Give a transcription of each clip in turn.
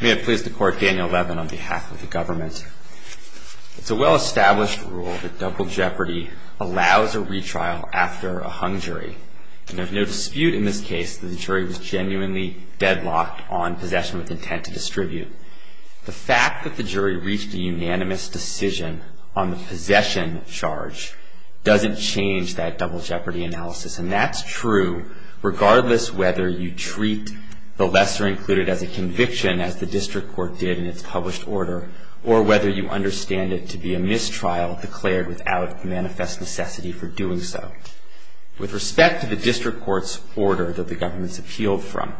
May it please the court, Daniel Levin on behalf of the government. It's a well-established rule that double jeopardy allows a retrial after a hung jury. And there's no dispute in this case that the jury was genuinely deadlocked on possession with intent to distribute. The fact that the jury reached a unanimous decision on the possession charge doesn't change that double jeopardy analysis. And that's true regardless whether you treat the lesser included as a conviction, as the district court did in its published order, or whether you understand it to be a mistrial declared without manifest necessity for doing so. With respect to the district court's order that the government's appealed from,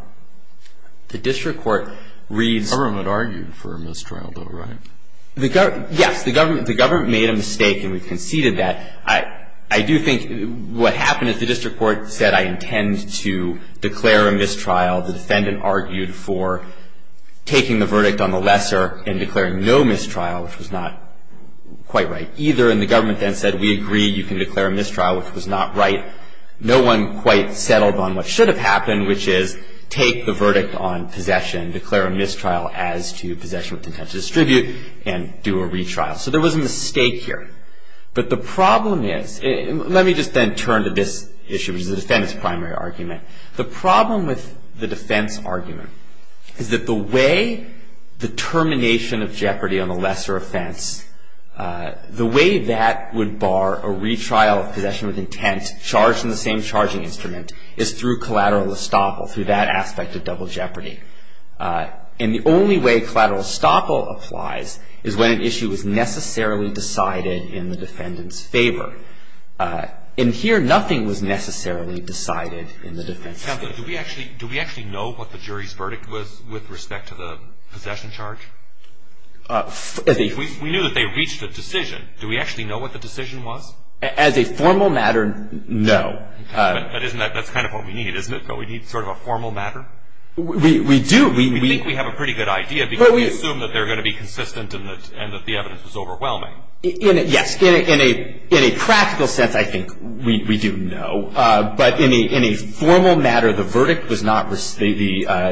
the district court reads The government argued for a mistrial though, right? Yes, the government made a mistake and we conceded that. And I do think what happened is the district court said I intend to declare a mistrial. The defendant argued for taking the verdict on the lesser and declaring no mistrial, which was not quite right either. And the government then said we agree you can declare a mistrial, which was not right. No one quite settled on what should have happened, which is take the verdict on possession, declare a mistrial as to possession with intent to distribute, and do a retrial. So there was a mistake here. But the problem is, let me just then turn to this issue, which is the defendant's primary argument. The problem with the defense argument is that the way the termination of jeopardy on the lesser offense, the way that would bar a retrial of possession with intent charged in the same charging instrument is through collateral estoppel, through that aspect of double jeopardy. And the only way collateral estoppel applies is when an issue is necessarily decided in the defendant's favor. And here nothing was necessarily decided in the defense case. Do we actually know what the jury's verdict was with respect to the possession charge? We knew that they reached a decision. Do we actually know what the decision was? As a formal matter, no. That's kind of what we need, isn't it? We need sort of a formal matter? We do. We think we have a pretty good idea because we assume that they're going to be consistent and that the evidence is overwhelming. Yes. In a practical sense, I think we do know. But in a formal matter, the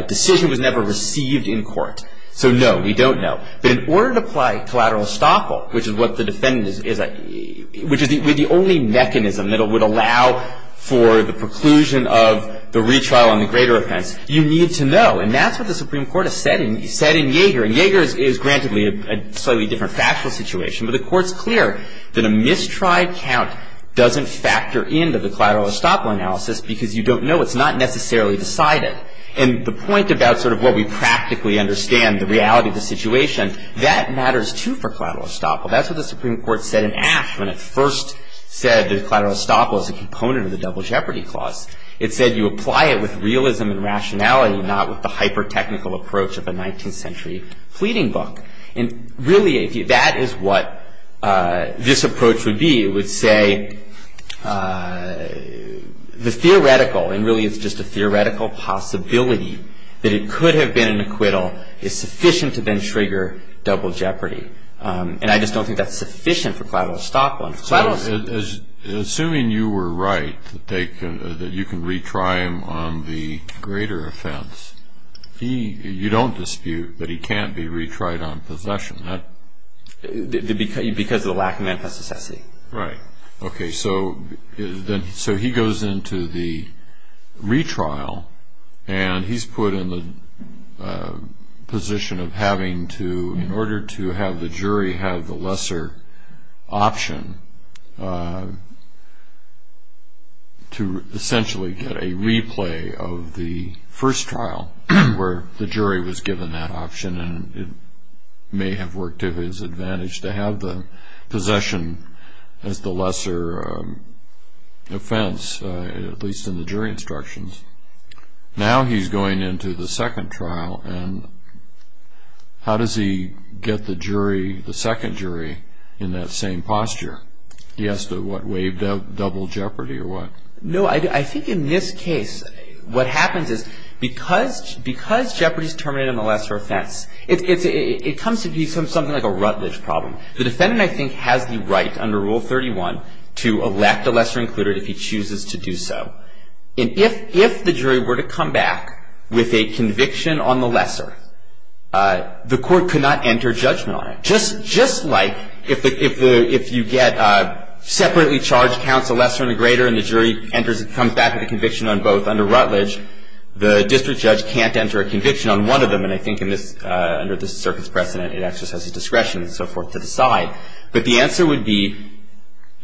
decision was never received in court. So no, we don't know. But in order to apply collateral estoppel, which is what the defendant is, which is the only mechanism that would allow for the preclusion of the retrial on the greater offense, you need to know. And that's what the Supreme Court has said in Yeager. And Yeager is, grantedly, a slightly different factual situation. But the Court's clear that a mistried count doesn't factor into the collateral estoppel analysis because you don't know. It's not necessarily decided. And the point about sort of what we practically understand, the reality of the situation, that matters, too, for collateral estoppel. That's what the Supreme Court said in Ashe when it first said that collateral estoppel is a component of the double jeopardy clause. It said you apply it with realism and rationality, not with the hyper-technical approach of a 19th century pleading book. And really, that is what this approach would be. It would say the theoretical, and really it's just a theoretical possibility, that it could have been an acquittal is sufficient to then trigger double jeopardy. And I just don't think that's sufficient for collateral estoppel. Assuming you were right, that you can retry him on the greater offense, you don't dispute that he can't be retried on possession. Because of the lack of manifest necessity. Right. Okay, so he goes into the retrial, and he's put in the position of having to, in order to have the jury have the lesser option, to essentially get a replay of the first trial, where the jury was given that option, and it may have worked to his advantage to have the possession as the lesser offense, at least in the jury instructions. Now he's going into the second trial, and how does he get the jury, the second jury, in that same posture? He has to, what, waive double jeopardy or what? No, I think in this case, what happens is, because jeopardy is terminated on the lesser offense, it comes to be something like a Rutledge problem. The defendant, I think, has the right, under Rule 31, to elect a lesser included if he chooses to do so. And if the jury were to come back with a conviction on the lesser, the court could not enter judgment on it. Just like if you get separately charged counts, a lesser and a greater, and the jury comes back with a conviction on both under Rutledge, the district judge can't enter a conviction on one of them. And I think under this circuit's precedent, it actually has the discretion and so forth to decide. But the answer would be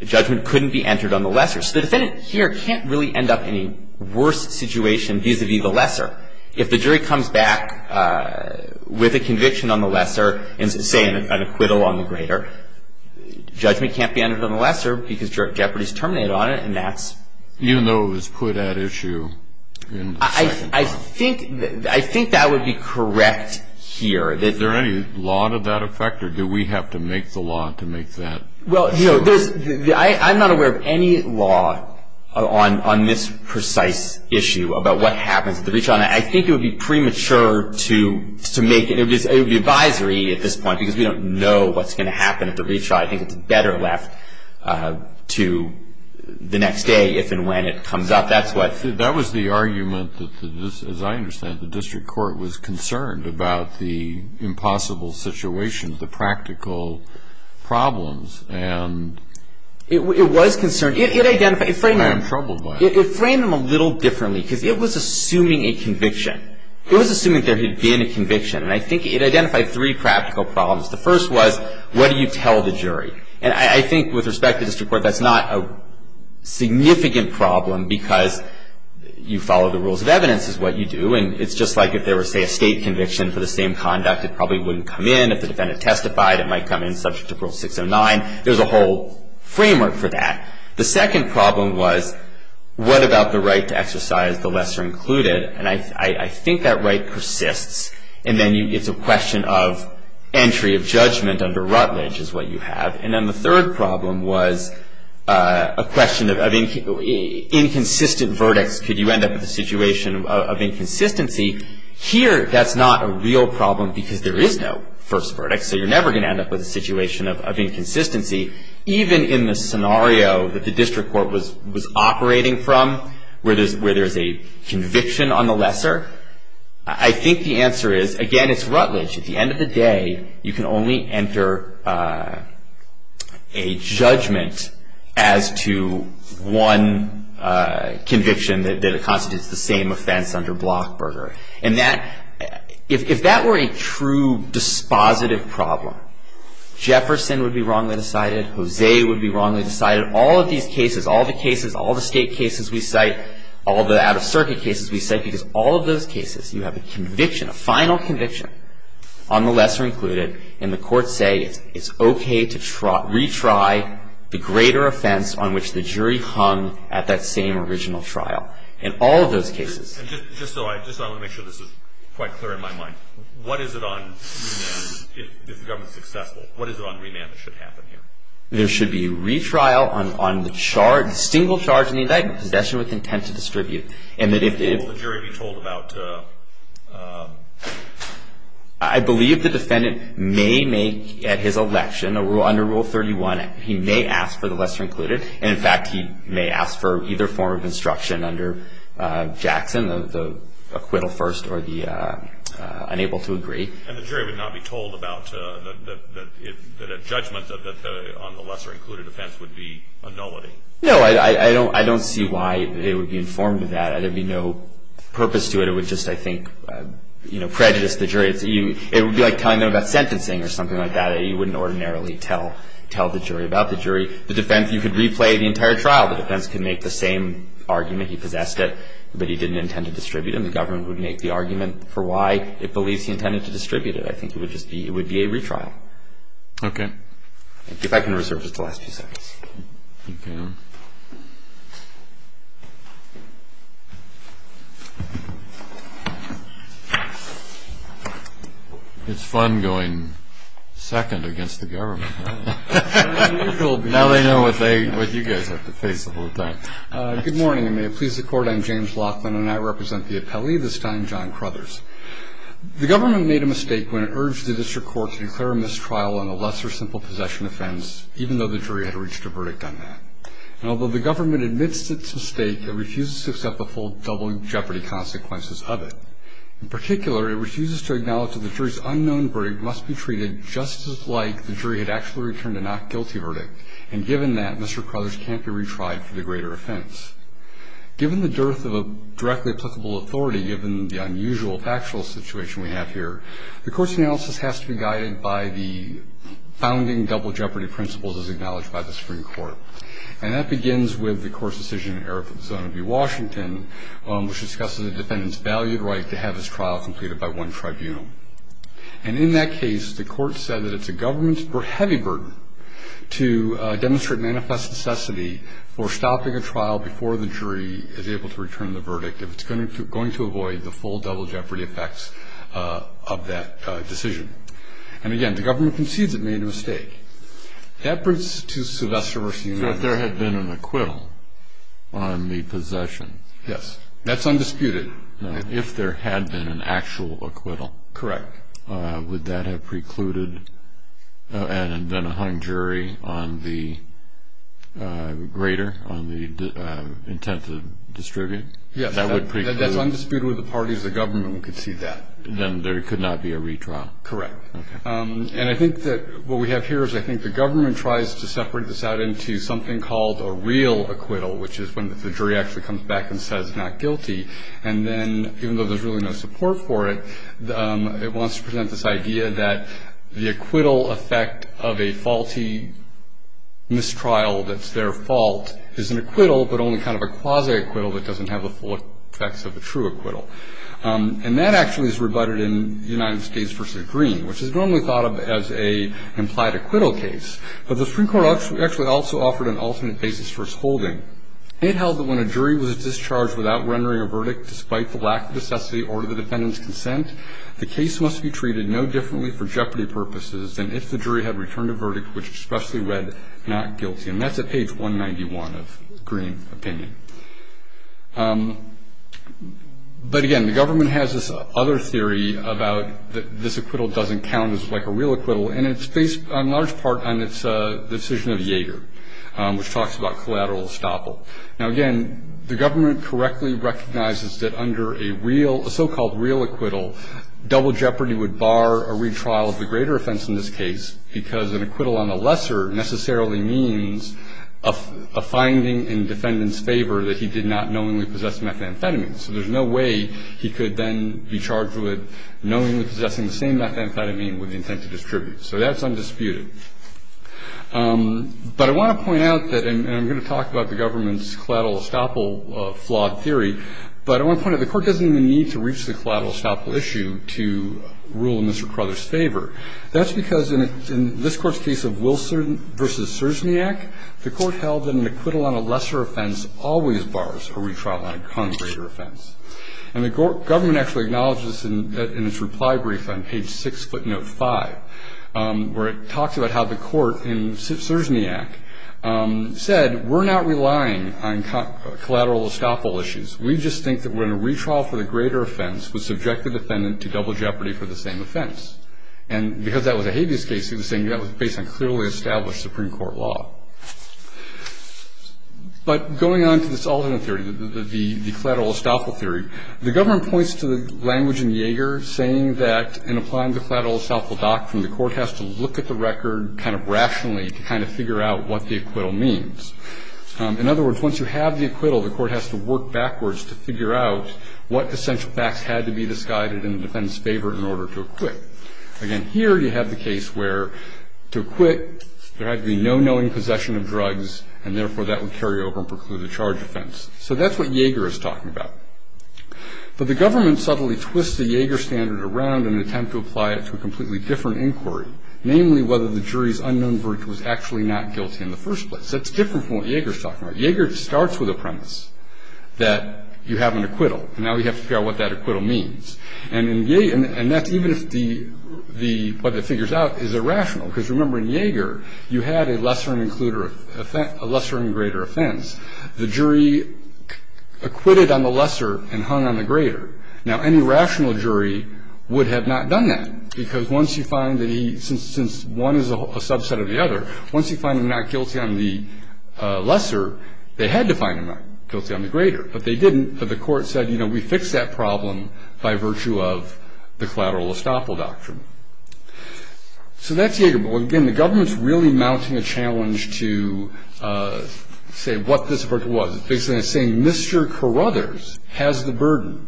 judgment couldn't be entered on the lesser. So the defendant here can't really end up in a worse situation vis-à-vis the lesser. If the jury comes back with a conviction on the lesser and, say, an acquittal on the greater, judgment can't be entered on the lesser because jeopardy is terminated on it, and that's... I think that would be correct here. Is there any law to that effect, or do we have to make the law to make that? Well, you know, I'm not aware of any law on this precise issue about what happens at the retrial. I think it would be premature to make it. It would be advisory at this point because we don't know what's going to happen at the retrial. I think it's better left to the next day if and when it comes up. That was the argument that, as I understand it, the district court was concerned about the impossible situation, the practical problems, and... It was concerned. It identified... I'm troubled by it. It framed them a little differently because it was assuming a conviction. It was assuming there had been a conviction, and I think it identified three practical problems. The first was, what do you tell the jury? And I think, with respect to district court, that's not a significant problem because you follow the rules of evidence is what you do, and it's just like if there were, say, a state conviction for the same conduct, it probably wouldn't come in. If the defendant testified, it might come in subject to Rule 609. There's a whole framework for that. The second problem was, what about the right to exercise the lesser included? And I think that right persists, and then it's a question of entry of judgment under Rutledge is what you have, and then the third problem was a question of inconsistent verdicts. Could you end up with a situation of inconsistency? Here, that's not a real problem because there is no first verdict, so you're never going to end up with a situation of inconsistency, even in the scenario that the district court was operating from where there's a conviction on the lesser. I think the answer is, again, it's Rutledge. At the end of the day, you can only enter a judgment as to one conviction that constitutes the same offense under Blockburger, and if that were a true dispositive problem, Jefferson would be wrongly decided. Jose would be wrongly decided. All of these cases, all the cases, all the state cases we cite, all the out-of-circuit cases we cite, because all of those cases you have a conviction, a final conviction on the lesser included, and the courts say it's okay to retry the greater offense on which the jury hung at that same original trial. In all of those cases. And just so I want to make sure this is quite clear in my mind, what is it on remand if the government is successful? What is it on remand that should happen here? There should be a retrial on the charge, the single charge in the indictment, possession with intent to distribute. Will the jury be told about? I believe the defendant may make, at his election, under Rule 31, he may ask for the lesser included, and in fact he may ask for either form of instruction under Jackson, the acquittal first or the unable to agree. And the jury would not be told about that a judgment on the lesser included offense would be a nullity? No, I don't see why it would be informed of that. There would be no purpose to it. It would just, I think, prejudice the jury. It would be like telling them about sentencing or something like that. You wouldn't ordinarily tell the jury about the jury. The defense, you could replay the entire trial. The defense could make the same argument. He possessed it, but he didn't intend to distribute it, and the government would make the argument for why it believes he intended to distribute it. I think it would be a retrial. Okay. If I can reserve just the last few seconds. You can. It's fun going second against the government. Now they know what you guys have to face the whole time. Good morning, and may it please the Court. I'm James Laughlin, and I represent the appellee, this time John Crothers. The government made a mistake when it urged the district court to declare a mistrial on a lesser simple possession offense, even though the jury had reached a verdict on that. Although the government admits its mistake, it refuses to accept the full double jeopardy consequences of it. In particular, it refuses to acknowledge that the jury's unknown verdict must be treated just as like the jury had actually returned a not guilty verdict, and given that, Mr. Crothers can't be retried for the greater offense. Given the dearth of a directly applicable authority, given the unusual factual situation we have here, the court's analysis has to be guided by the founding double jeopardy principles, as acknowledged by the Supreme Court. And that begins with the court's decision in the era of Zona B Washington, which discusses a defendant's valued right to have his trial completed by one tribunal. And in that case, the court said that it's a government's heavy burden to demonstrate or manifest necessity for stopping a trial before the jury is able to return the verdict, if it's going to avoid the full double jeopardy effects of that decision. And again, the government concedes it made a mistake. That brings us to Sylvester v. United. If there had been an acquittal on the possession. Yes. That's undisputed. If there had been an actual acquittal. Correct. Would that have precluded and then hung jury on the greater, on the intent to distribute? Yes. That would preclude. That's undisputed with the parties of the government would concede that. Then there could not be a retrial. Correct. Okay. And I think that what we have here is I think the government tries to separate this out into something called a real acquittal, which is when the jury actually comes back and says not guilty. And then even though there's really no support for it, it wants to present this idea that the acquittal effect of a faulty mistrial that's their fault is an acquittal, but only kind of a quasi-acquittal that doesn't have the full effects of a true acquittal. And that actually is rebutted in the United States v. Green, which is normally thought of as an implied acquittal case. But the Supreme Court actually also offered an alternate basis for its holding. It held that when a jury was discharged without rendering a verdict, despite the lack of necessity or the defendant's consent, the case must be treated no differently for jeopardy purposes than if the jury had returned a verdict which expressly read not guilty. And that's at page 191 of Green opinion. But, again, the government has this other theory about this acquittal doesn't count as like a real acquittal, and it's based on large part on its decision of Yeager, which talks about collateral estoppel. Now, again, the government correctly recognizes that under a so-called real acquittal, double jeopardy would bar a retrial of the greater offense in this case because an acquittal on the lesser necessarily means a finding in defendant's favor that he did not knowingly possess methamphetamine. So there's no way he could then be charged with knowingly possessing the same methamphetamine with the intent to distribute. So that's undisputed. But I want to point out that, and I'm going to talk about the government's collateral estoppel flawed theory, but I want to point out the Court doesn't even need to reach the collateral estoppel issue to rule in Mr. Crowther's favor. That's because in this Court's case of Wilson v. Sersniak, the Court held that an acquittal on a lesser offense always bars a retrial on a greater offense. And the government actually acknowledges this in its reply brief on page 6 foot note 5, where it talks about how the Court in Sersniak said, we're not relying on collateral estoppel issues. We just think that when a retrial for the greater offense would subject the defendant to double jeopardy for the same offense. And because that was a habeas case, he was saying that was based on clearly established Supreme Court law. But going on to this alternate theory, the collateral estoppel theory, the government points to the language in Yeager saying that in applying the collateral estoppel doctrine, the Court has to look at the record kind of rationally to kind of figure out what the acquittal means. In other words, once you have the acquittal, the Court has to work backwards to figure out what essential facts had to be disguided in the defendant's favor in order to acquit. Again, here you have the case where to acquit, there had to be no knowing possession of drugs, and therefore that would carry over and preclude a charge offense. So that's what Yeager is talking about. But the government subtly twists the Yeager standard around in an attempt to apply it to a completely different inquiry, namely whether the jury's unknown verdict was actually not guilty in the first place. That's different from what Yeager's talking about. Yeager starts with a premise that you have an acquittal, and now we have to figure out what that acquittal means. And that's even if what it figures out is irrational. Because remember, in Yeager, you had a lesser and greater offense. The jury acquitted on the lesser and hung on the greater. Now, any rational jury would have not done that, because once you find that he – they had to find him not guilty on the greater, but they didn't. But the court said, you know, we fixed that problem by virtue of the collateral estoppel doctrine. So that's Yeager. But, again, the government's really mounting a challenge to say what this verdict was. It's basically saying Mr. Carruthers has the burden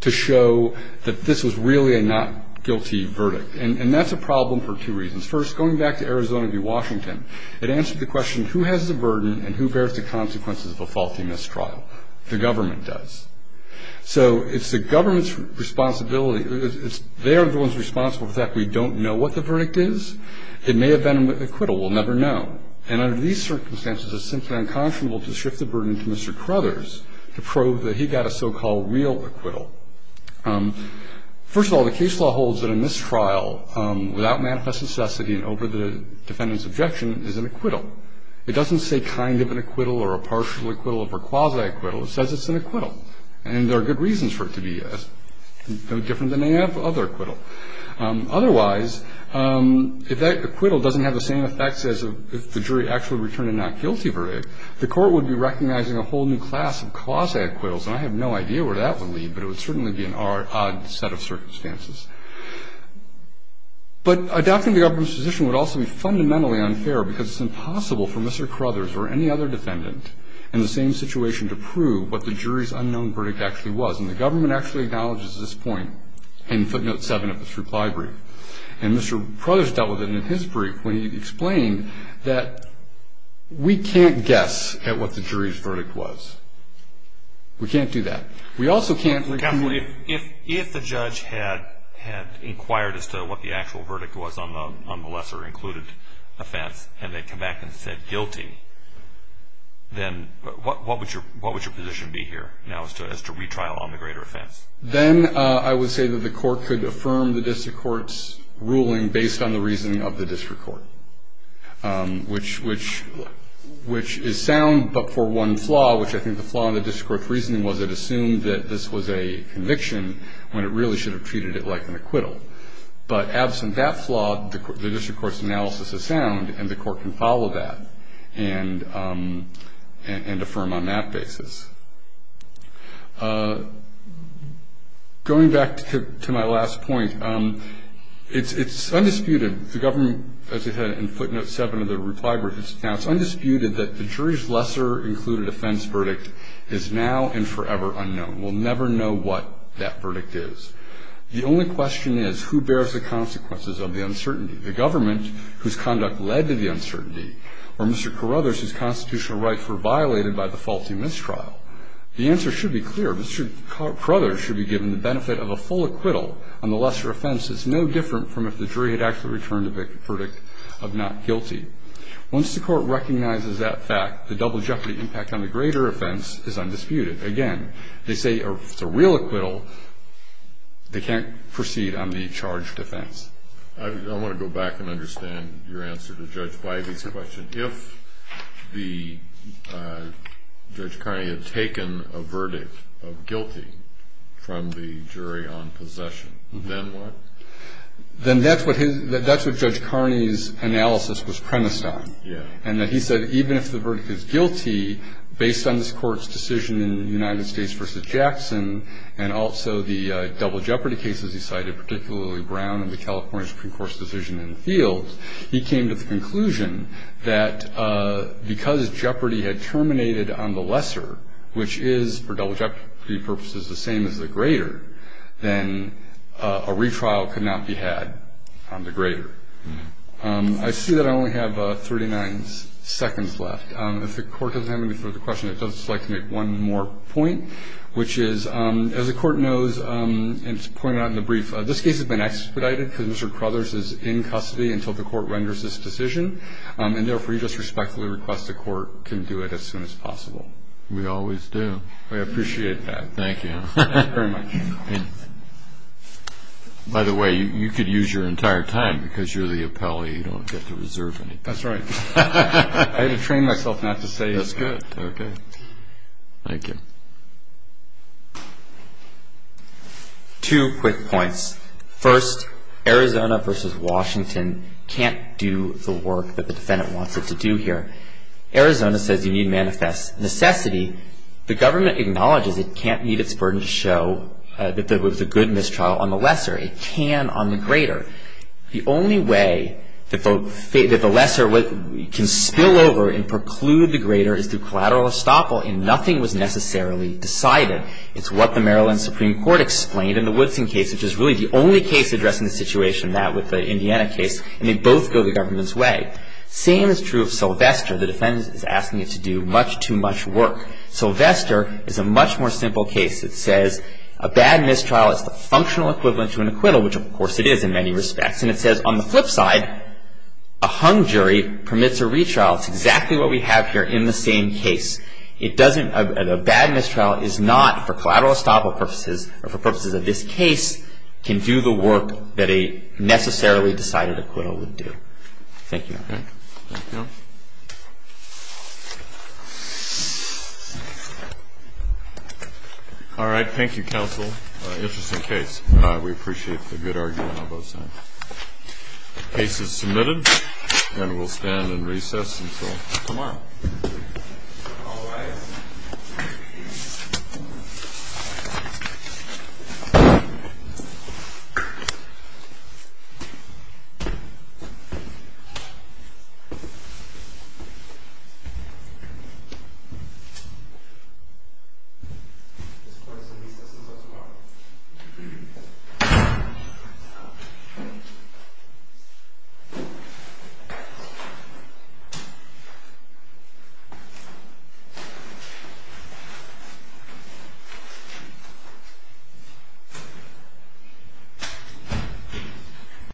to show that this was really a not guilty verdict. And that's a problem for two reasons. First, going back to Arizona v. Washington, it answered the question, who has the burden and who bears the consequences of a faulty mistrial? The government does. So it's the government's responsibility – they are the ones responsible for the fact we don't know what the verdict is. It may have been an acquittal. We'll never know. And under these circumstances, it's simply unconscionable to shift the burden to Mr. Carruthers to prove that he got a so-called real acquittal. First of all, the case law holds that a mistrial, without manifest necessity and over the defendant's objection, is an acquittal. It doesn't say kind of an acquittal or a partial acquittal or quasi-acquittal. It says it's an acquittal. And there are good reasons for it to be different than any other acquittal. Otherwise, if that acquittal doesn't have the same effects as if the jury actually returned a not guilty verdict, the court would be recognizing a whole new class of quasi-acquittals. And I have no idea where that would lead, but it would certainly be an odd set of circumstances. But adopting the government's position would also be fundamentally unfair because it's impossible for Mr. Carruthers or any other defendant in the same situation to prove what the jury's unknown verdict actually was. And the government actually acknowledges this point in footnote 7 of its reply brief. And Mr. Carruthers dealt with it in his brief when he explained that we can't guess at what the jury's verdict was. We can't do that. If the judge had inquired as to what the actual verdict was on the lesser included offense and they came back and said guilty, then what would your position be here now as to retrial on the greater offense? Then I would say that the court could affirm the district court's ruling based on the reasoning of the district court, which is sound but for one flaw, which I think the flaw in the district court's reasoning was it assumed that this was a conviction when it really should have treated it like an acquittal. But absent that flaw, the district court's analysis is sound and the court can follow that and affirm on that basis. Going back to my last point, it's undisputed, the government, as I said, in footnote 7 of the reply brief, it's undisputed that the jury's lesser included offense verdict is now and forever unknown. We'll never know what that verdict is. The only question is who bears the consequences of the uncertainty, the government whose conduct led to the uncertainty, or Mr. Carruthers whose constitutional rights were violated by the faulty mistrial. The answer should be clear. Mr. Carruthers should be given the benefit of a full acquittal on the lesser offense. It's no different from if the jury had actually returned a verdict of not guilty. Once the court recognizes that fact, the double jeopardy impact on the greater offense is undisputed. Again, they say if it's a real acquittal, they can't proceed on the charged offense. I want to go back and understand your answer to Judge Bybee's question. If Judge Carney had taken a verdict of guilty from the jury on possession, then what? Then that's what Judge Carney's analysis was premised on, and that he said even if the verdict is guilty based on this court's decision in United States v. Jackson and also the double jeopardy cases he cited, particularly Brown and the California Supreme Court's decision in the field, he came to the conclusion that because jeopardy had terminated on the lesser, which is for double jeopardy purposes the same as the greater, then a retrial could not be had on the greater. I see that I only have 39 seconds left. If the Court doesn't have any further questions, I'd just like to make one more point, which is, as the Court knows, and it's pointed out in the brief, this case has been expedited because Mr. Crothers is in custody until the Court renders this decision, and therefore you just respectfully request the Court can do it as soon as possible. We always do. We appreciate that. Thank you. Thank you very much. By the way, you could use your entire time because you're the appellee. You don't get to reserve anything. That's right. I had to train myself not to say it. That's good. Okay. Thank you. Two quick points. First, Arizona versus Washington can't do the work that the defendant wants it to do here. Arizona says you need manifest necessity. The government acknowledges it can't meet its burden to show that there was a good mistrial on the lesser. It can on the greater. The only way that the lesser can spill over and preclude the greater is through collateral estoppel, and nothing was necessarily decided. It's what the Maryland Supreme Court explained in the Woodson case, which is really the only case addressing the situation in that with the Indiana case, and they both go the government's way. Same is true of Sylvester. The defendant is asking it to do much too much work. Sylvester is a much more simple case. It says a bad mistrial is the functional equivalent to an acquittal, which, of course, it is in many respects. And it says on the flip side, a hung jury permits a retrial. It's exactly what we have here in the same case. It doesn't – a bad mistrial is not for collateral estoppel purposes or for purposes of this case can do the work that a necessarily decided acquittal would do. Thank you. Thank you. All right. Thank you, counsel. Interesting case. We appreciate the good argument on both sides. Case is submitted and we'll stand in recess until tomorrow. All rise. Thank you.